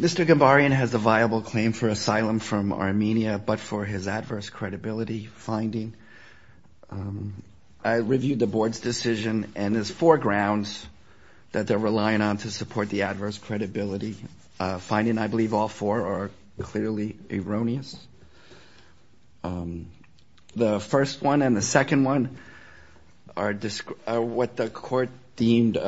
Mr. Gambaryan has a viable claim for asylum from Armenia but for his adverse credibility finding. I reviewed the board's decision and there's four grounds that they're relying on to support the adverse credibility finding. I believe all four are clearly erroneous. The first one and the second one are what the court deemed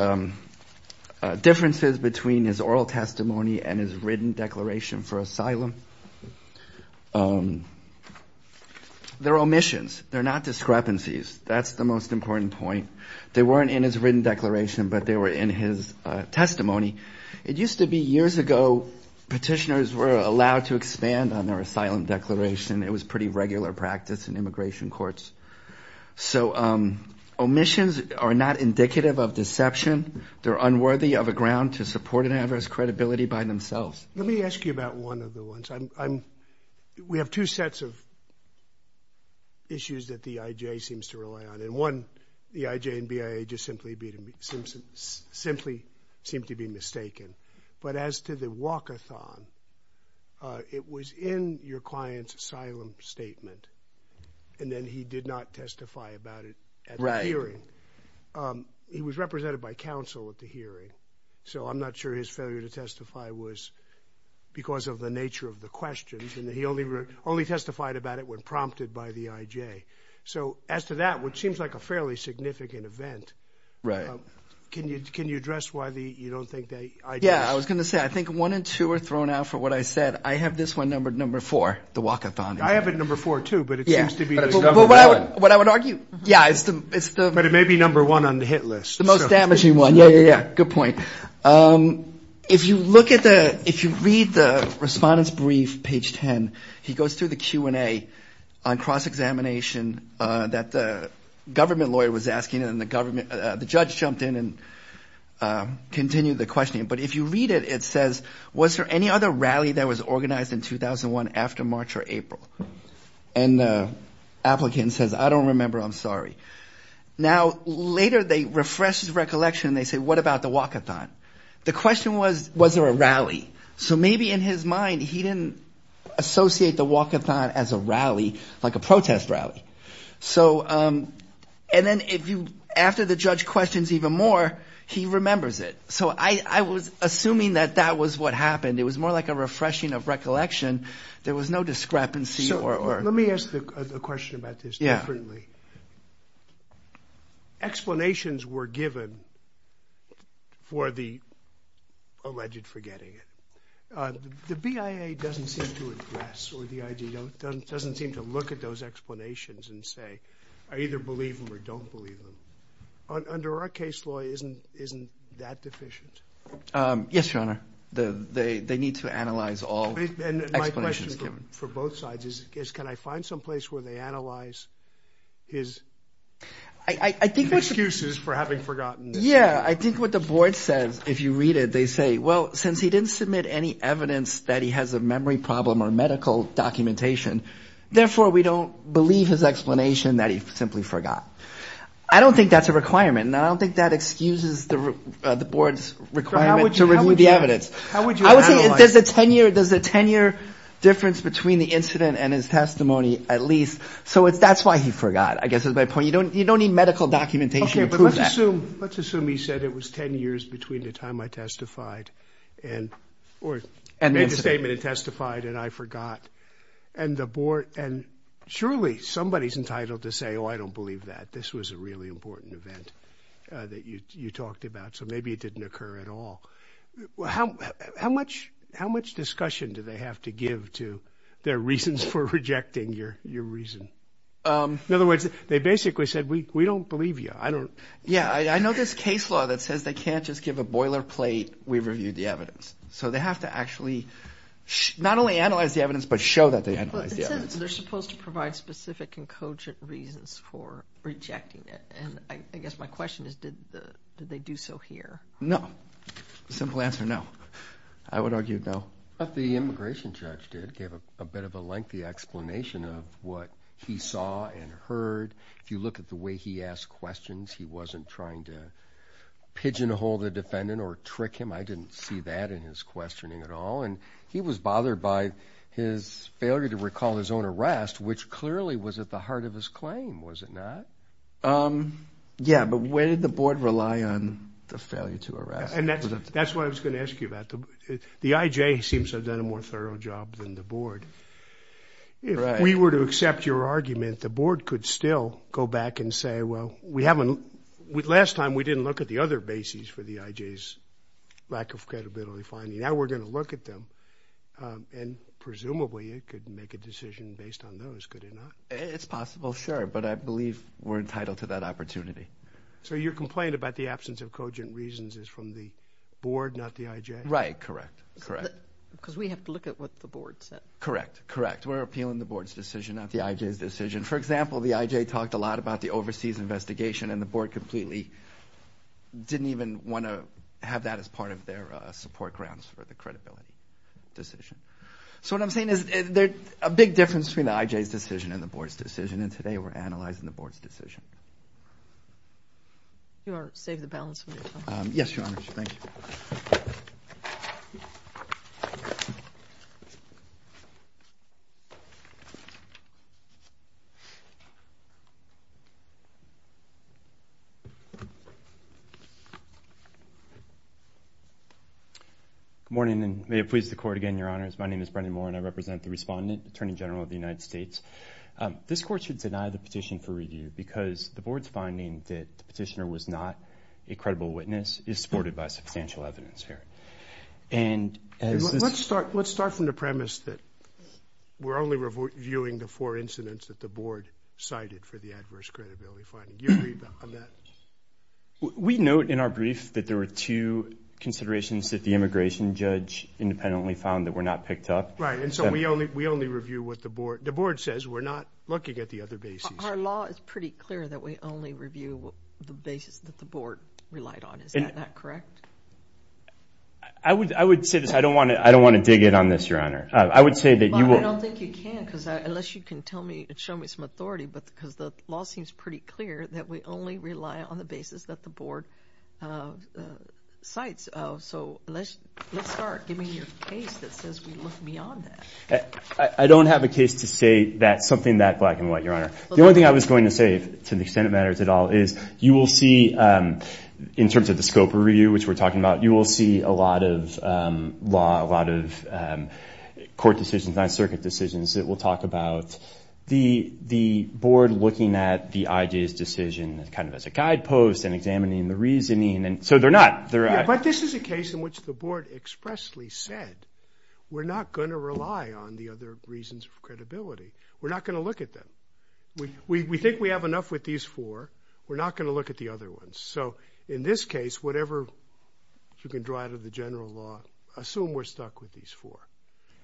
differences between his oral testimony and his written declaration for asylum. They're omissions. They're not discrepancies. That's the most important point. They weren't in his written declaration but they were in his testimony. It used to be years ago petitioners were allowed to expand on their asylum declaration. It was pretty regular practice in immigration courts. So omissions are not indicative of deception. They're unworthy of a ground to support an adverse credibility by themselves. Let me ask you about one of the ones. We have two sets of issues that the IJ seems to rely on and one the IJ and BIA just simply seem to be mistaken. But as to the walk-a-thon, it was in your client's asylum statement and then he did not testify about it at the hearing. He was represented by counsel at the hearing so I'm not sure his failure to testify was because of the nature of the questions and he only testified about it when prompted by the IJ. So as to that, which seems like a fairly significant event, can you address why you don't think the IJ? Yeah, I was going to say, I think one and two are thrown out for what I said. I have this one numbered number four, the walk-a-thon. I have it number four too but it seems to be the number one. What I would argue, yeah. But it may be number one on the hit list. The most damaging one. Yeah, yeah, yeah. Good point. If you look at the examination that the government lawyer was asking and the judge jumped in and continued the questioning. But if you read it, it says, was there any other rally that was organized in 2001 after March or April? And the applicant says, I don't remember, I'm sorry. Now later they refresh his recollection and they say, what about the walk-a-thon? The question was, was there a rally? So maybe in his mind he didn't associate the walk-a-thon as a rally like a protest rally. So and then if you, after the judge questions even more, he remembers it. So I was assuming that that was what happened. It was more like a refreshing of recollection. There was no discrepancy. So let me ask a question about this differently. Yeah. Explanations were given for the alleged forgetting. The BIA doesn't seem to address or the IJ doesn't seem to look at those explanations and say, I either believe them or don't believe them. Under our case law, isn't that deficient? Yes, Your Honor. They need to analyze all explanations. And my question for both sides is, can I find someplace where they analyze his excuses for having forgotten? Yeah, I think what the board says, if you read it, they say, well, since he didn't submit any evidence that he has a memory problem or medical documentation, therefore we don't believe his explanation that he simply forgot. I don't think that's a requirement. And I don't think that excuses the board's requirement to review the evidence. I would say there's a 10 year difference between the incident and his testimony at least. So that's why he forgot. I guess that's my point. You don't need medical documentation to prove that. Let's assume he said it was 10 years between the time I testified and made a statement and testified and I forgot. And the board and surely somebody is entitled to say, oh, I don't believe that. This was a really important event that you talked about. So maybe it didn't occur at all. How how much how much discussion do they have to give to their reasons for rejecting your your reason? In other words, they basically said, we don't believe you. I don't. Yeah, I know this case law that says they can't just give a boilerplate. We've reviewed the evidence. So they have to actually not only analyze the evidence, but show that they had they're supposed to provide specific and cogent reasons for rejecting it. And I guess my question is, did they do so here? No, simple answer. No, I would argue. No, but the immigration judge did give a bit of a lengthy explanation of what he saw and heard. If you look at the way he asked questions, he wasn't trying to pigeonhole the defendant or trick him. I didn't see that in his questioning at all. And he was bothered by his failure to recall his own arrest, which clearly was at the heart of his claim, was it not? Yeah. But where did the board rely on the failure to arrest? And that's what I was going to ask you about. The IJ seems to have done a more thorough job than the board. If we were to accept your argument, the board could still go back and say, well, we haven't with last time. We didn't look at the other bases for the IJ's lack of credibility finding. Now we're going to look at them. And presumably it could make a decision based on those, could it not? It's possible. Sure. But I believe we're entitled to that opportunity. So your complaint about the absence of cogent reasons is from the board, not the IJ? Right. Correct. Correct. Because we have to look at what the board said. Correct. Correct. We're appealing the board's decision, not the IJ's decision. For example, the IJ talked a lot about the overseas investigation and the board completely didn't even want to have that as part of their support grounds for the credibility decision. So what I'm saying is there's a big difference between the IJ's decision and the board's decision. And today we're analyzing the board's decision. You want to save the board's finding that the petitioner was not a credible witness is supported by substantial evidence here. And let's start, let's start from the premise that we're only reviewing the four incidents that the board cited for the adverse credibility finding. You agree on that? We note in our brief that there were two considerations that the immigration judge independently found that were not picked up. Right. And so we only, we only review what the board, the board says we're not looking at the other bases. Our law is pretty clear that we only review the basis that the board relied on. Is that correct? I would, I would say this. I don't want to, I don't want to dig in on this, your honor. I would say that you will. I don't think you can because unless you can tell me and show me some authority, but because the law seems pretty clear that we only rely on the basis that the board cites. So let's, let's start giving your case that says we look beyond that. I don't have a case to say that something that black and white, your honor. The only thing I was going to say to the extent it matters at all is you will see in terms of the scope of review, which we're talking about, you will see a lot of law, a lot of court decisions, non-circuit decisions that we'll talk about. The, the board looking at the IJ's decision as kind of as a guidepost and examining the reasoning. And so they're not, they're. But this is a case in which the board expressly said, we're not going to rely on the other reasons of credibility. We're not going to look at them. We, we, we think we have enough with these four. We're not going to look at the other ones. So in this case, whatever you can draw out of the general law, assume we're stuck with these four.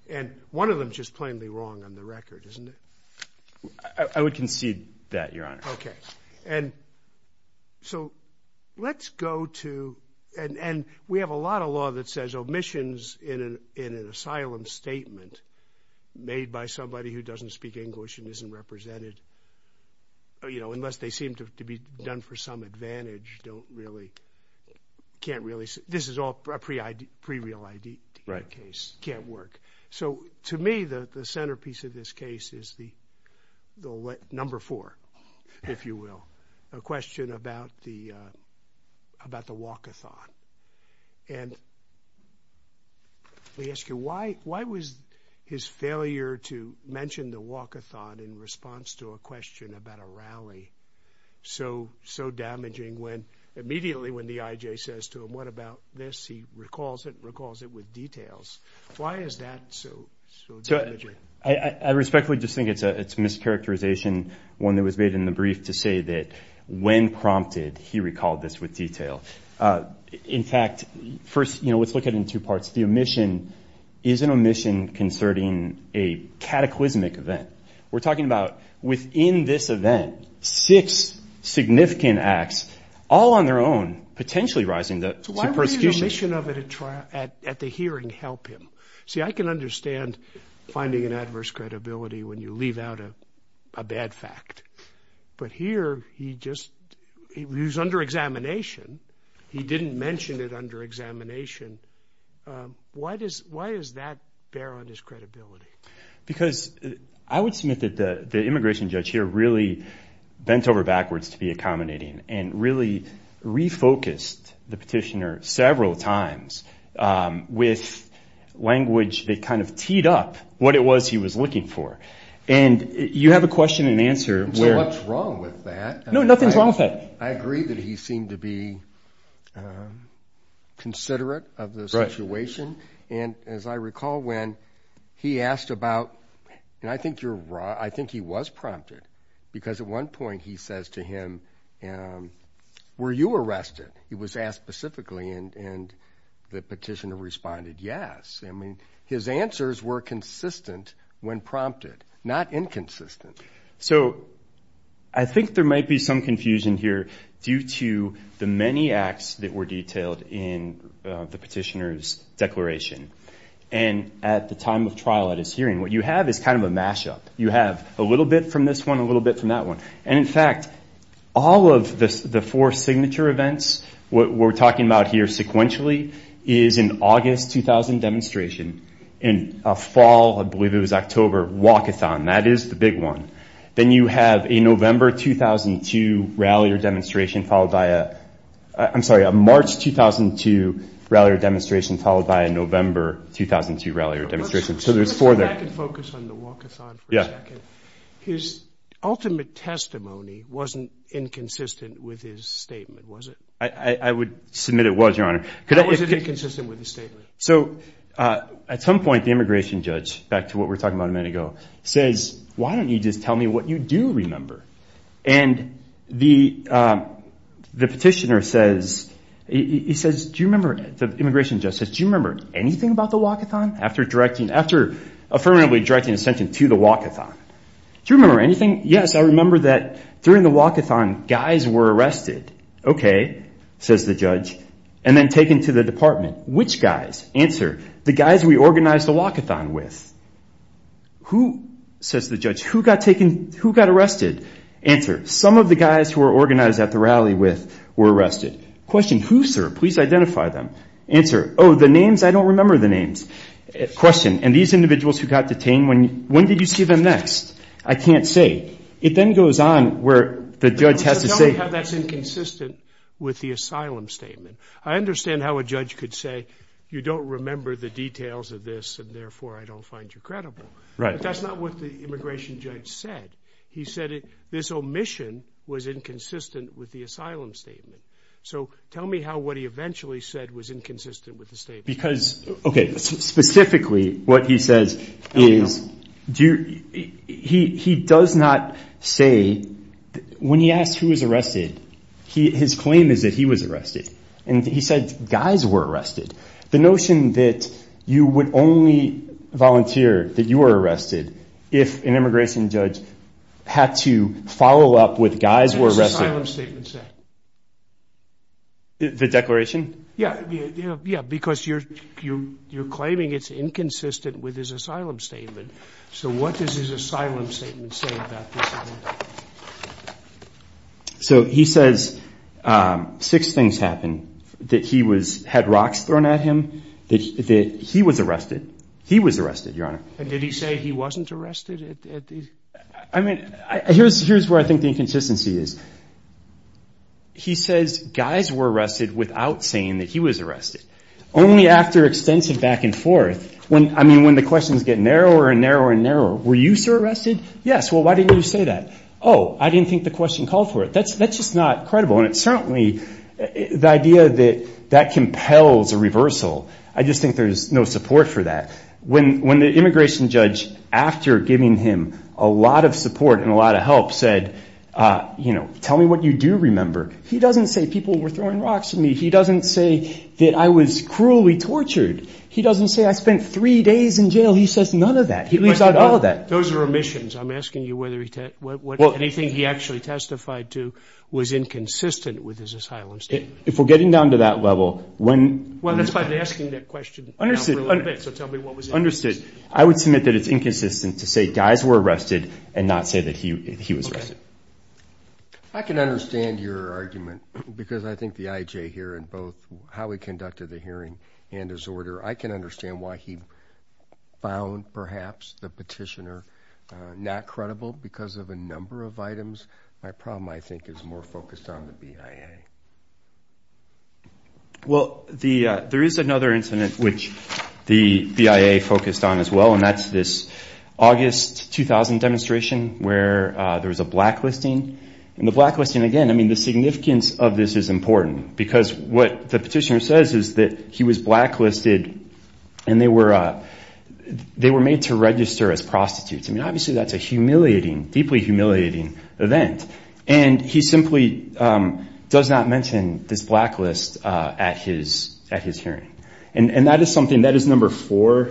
And one of them just plainly wrong on the record, isn't it? I would concede that, your honor. Okay. And so let's go to, and, and we have a lot of law that says omissions in an, in an asylum statement made by somebody who doesn't speak English and isn't represented, you know, unless they seem to be done for some advantage, don't really, can't really say this is all pre ID, pre real ID case can't work. So to me, the, the centerpiece of this case is the, the number four, if you will, a question about the, about the walkathon. And we ask you why, why was his failure to mention the walkathon in response to a question about a rally? So, so damaging when immediately, when the IJ says to him, what about this? He recalls it, recalls it with details. Why is that? So, so I respectfully just think it's a, it's mischaracterization. One that was made in the brief to say that when prompted, he recalled this with detail. In fact, first, you know, let's look at it in two parts. The within this event, six significant acts all on their own, potentially rising the, so why would the omission of it at trial, at, at the hearing help him? See, I can understand finding an adverse credibility when you leave out a, a bad fact, but here he just, he was under examination. He didn't mention it under examination. Why does, why does that undermine his credibility? Because I would submit that the, the immigration judge here really bent over backwards to be accommodating and really refocused the petitioner several times with language that kind of teed up what it was he was looking for. And you have a question and answer. So what's wrong with that? No, nothing's wrong with that. I agree that he seemed to be considerate of the situation. And as I recall, when he asked about, and I think you're wrong. I think he was prompted because at one point he says to him, were you arrested? He was asked specifically and the petitioner responded. Yes. I mean, his answers were consistent when prompted, not inconsistent. So I think there might be some in the petitioner's declaration. And at the time of trial at his hearing, what you have is kind of a mashup. You have a little bit from this one, a little bit from that one. And in fact, all of the, the four signature events, what we're talking about here sequentially is an August 2000 demonstration in a fall, I believe it was October walkathon. That is the big one. Then you have a I'm sorry, a March 2002 rally or demonstration followed by a November 2002 rally or demonstration. His ultimate testimony wasn't inconsistent with his statement, was it? I would submit it was, Your Honor. It was inconsistent with the statement. So at some point the immigration judge, back to what we're talking about a minute ago, says, why don't you just tell me what you do remember? And the petitioner says, he says, do you remember, the immigration judge says, do you remember anything about the walkathon after directing, after affirmatively directing a sentence to the walkathon? Do you remember anything? Yes. I remember that during the walkathon guys were arrested. Okay. Says the judge. And then taken to the department. Which guys? Answer. The guys we organized the walkathon with. Who, says the judge, who got taken, who got arrested? Answer. Some of the guys who were organized at the rally with were arrested. Question. Who, sir? Please identify them. Answer. Oh, the names. I don't remember the names. Question. And these individuals who got detained, when, when did you see them next? I can't say. It then goes on where the judge has to say. Tell me how that's inconsistent with the asylum statement. I understand how a judge could say, you don't remember the details of this and therefore I don't find you credible. Right. But that's not what the immigration judge said. He said it, this omission was inconsistent with the asylum statement. So tell me how, what he eventually said was inconsistent with the statement. Because, okay. Specifically, what he says is, do you, he, he does not say when he asked who was arrested, he, his claim is that he was arrested. And he said guys were arrested. The notion that you would only volunteer that you were arrested if an immigration judge had to follow up with guys were arrested. What does his asylum statement say? The declaration? Yeah. Yeah. Yeah. Because you're, you, you're claiming it's inconsistent with his asylum statement. So what does his asylum statement say about this? So he says, um, six things happened that he was, had rocks thrown at him, that he was arrested. He was arrested, your honor. And did he say he wasn't arrested at these? I mean, here's, here's where I think the inconsistency is. He says guys were arrested without saying that he was arrested. Only after extensive back and forth. When, I mean, when the questions get narrower and narrower and narrower, were you arrested? Yes. Well, why didn't you say that? Oh, I didn't think the question called for it. That's, that's just not credible. And it certainly, the idea that that compels a reversal. I just think there's no support for that. When, when the immigration judge, after giving him a lot of support and a lot of help said, uh, you know, tell me what you do remember. He doesn't say people were throwing rocks at me. He doesn't say that I was cruelly He leaves out all of that. Those are omissions. I'm asking you whether he, what anything he actually testified to was inconsistent with his asylum statement. If we're getting down to that level, when, well, that's by asking that question. Understood. So tell me what was understood. I would submit that it's inconsistent to say guys were arrested and not say that he, he was arrested. I can understand your argument because I think the IJ here in both how we conducted the hearing and his order, I can understand why he found perhaps the petitioner, uh, not credible because of a number of items. My problem, I think is more focused on the BIA. Well, the, uh, there is another incident which the BIA focused on as well. And that's this August, 2000 demonstration where, uh, there was a blacklisting and the blacklisting again, I mean, the significance of this is important because what the petitioner says is that he was blacklisted and they were, uh, they were made to register as prostitutes. I mean, obviously that's a humiliating, deeply humiliating event. And he simply, um, does not mention this blacklist, uh, at his, at his hearing. And that is something that is number four.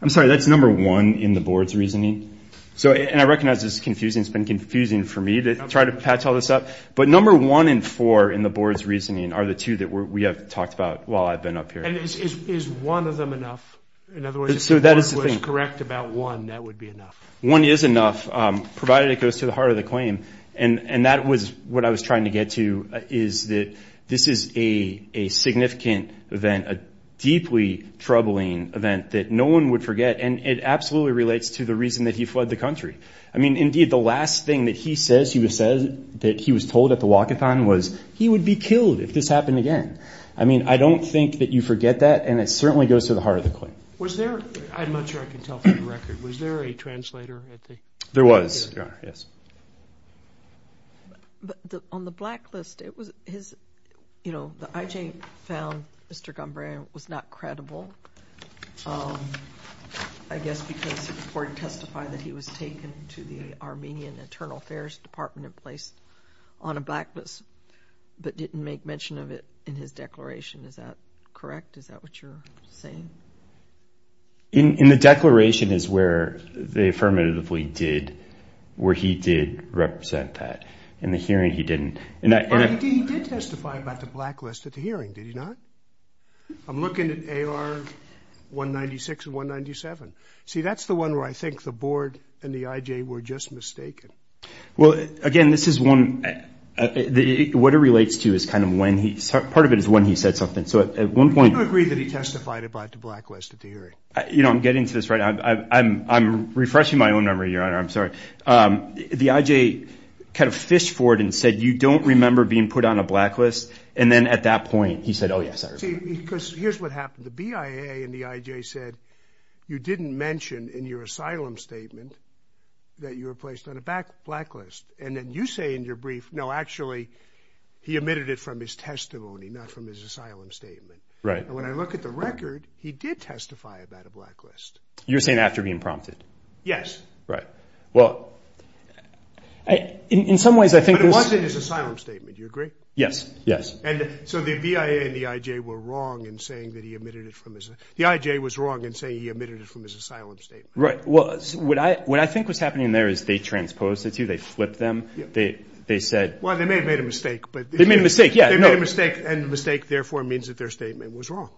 I'm sorry. That's number one in the board's reasoning. So, and I recognize this is confusing. It's been confusing for me to try to patch all this up, but number one and four in the board's reasoning are the two that we have talked about while I've been up here. Is one of them enough? In other words, if the board was correct about one, that would be enough. One is enough, um, provided it goes to the heart of the claim. And that was what I was trying to get to is that this is a significant event, a deeply troubling event that no one would forget. And it absolutely relates to the reason that he fled the country. I mean, indeed, the last thing that he says, he was said that he was told at the walk-a-thon was he would be killed if this happened again. I mean, I don't think that you forget that. And it certainly goes to the heart of the claim. Was there, I'm not sure I can tell from the record, was there a translator at the hearing? There was. Yes. But on the blacklist, it was his, you know, the IJ found Mr. Gombran was not credible, um, I guess because the court testified that he was taken to the Armenian Internal Affairs Department and placed on a blacklist, but didn't make mention of it in his declaration. Is that correct? Is that what you're saying? In the declaration is where they affirmatively did, where he did represent that. In the hearing he didn't. He did testify about the blacklist at the hearing, did he not? I'm looking at AR 196 and 197. See, that's the one where I think the board and the IJ were just mistaken. Well, again, this is one, what it relates to is kind of when he, part of it is when he said something. So at one point. Do you agree that he testified about the blacklist at the hearing? You know, I'm getting to this right now. I'm, I'm, I'm refreshing my own memory, Your Honor. I'm sorry. Um, the IJ kind of fish forward and said, you don't remember being put on a blacklist? And then at that point he said, oh, yes, I remember. See, because here's what happened. The BIA and the IJ said, you didn't mention in your asylum statement that you were placed on a back blacklist. And then you say in your brief, no, actually he admitted it from his testimony, not from his asylum statement. Right. And when I look at the record, he did testify about a blacklist. You're saying after being prompted? Yes. Right. Well, I, in some ways, I think it was in his asylum statement. You agree? Yes. Yes. And so the BIA and the IJ were wrong in saying that he admitted it from his, the IJ was wrong in saying he admitted it from his asylum statement. Right. Well, what I, what I think was happening there is they transposed it to, they flipped them. They, they said, well, they may have made a mistake, but they made a mistake. Yeah. No mistake. And the mistake therefore means that their statement was wrong.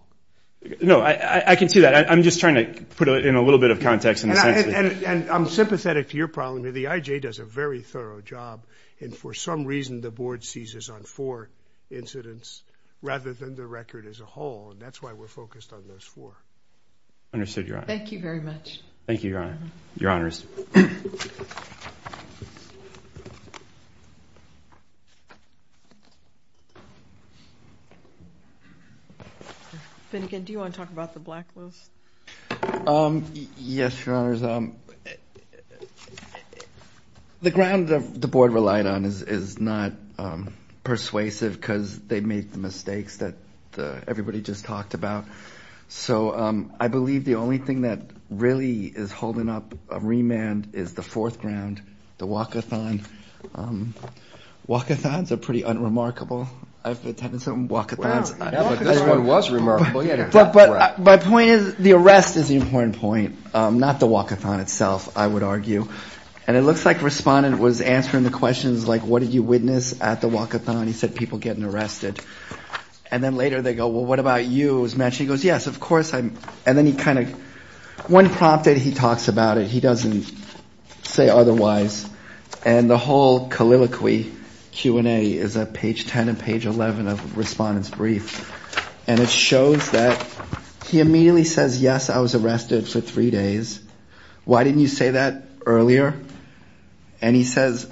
No, I, I can see that. I'm just trying to put it in a little bit of context. And, and I'm sympathetic to your problem that the IJ does a very thorough job. And for some reason, the board seizes on four incidents rather than the record as a whole. And that's why we're focused on those four. Understood, Your Honor. Thank you very much. Thank you, Your Honor. Your Honors. Finnegan, do you want to talk about the blacklist? Yes, Your Honors. The ground that the board relied on is, is not persuasive because they made the mistakes that everybody just talked about. So I believe the only thing that really is holding up a remand is the fourth ground, the walk-a-thon. Walk-a-thons are pretty unremarkable. I've attended some walk-a-thons. Yeah, but this one was remarkable. Yeah, but my point is the important point, not the walk-a-thon itself, I would argue. And it looks like Respondent was answering the questions like, what did you witness at the walk-a-thon? He said, people getting arrested. And then later they go, well, what about you? He goes, yes, of course. And then he kind of, when prompted, he talks about it. He doesn't say otherwise. And the whole calliloquy Q&A is at page 10 and page 11 of Respondent's brief. And it shows that he immediately says, I was arrested for three days. Why didn't you say that earlier? And he says,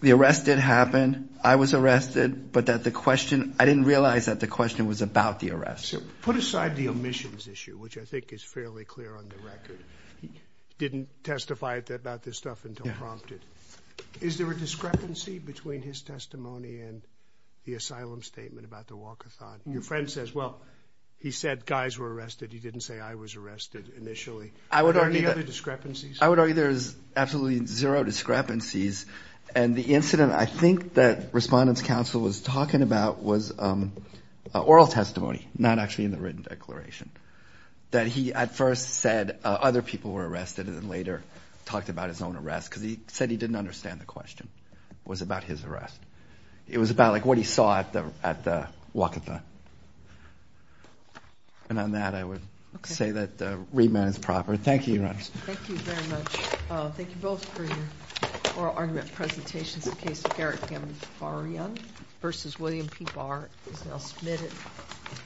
the arrest did happen. I was arrested, but that the question, I didn't realize that the question was about the arrest. Put aside the omissions issue, which I think is fairly clear on the record. He didn't testify about this stuff until prompted. Is there a discrepancy between his testimony and the asylum statement about the walk-a-thon? Your friend says, well, he said guys were arrested. He didn't say I was arrested initially. Are there any other discrepancies? I would argue there's absolutely zero discrepancies. And the incident I think that Respondent's counsel was talking about was oral testimony, not actually in the written declaration. That he at first said other people were arrested and then later talked about his own arrest because he said he didn't understand the question. It was about his arrest. It was about like what he saw at the walk-a-thon. And on that, I would say that the remand is proper. Thank you, Your Honor. Thank you very much. Thank you both for your oral argument presentations.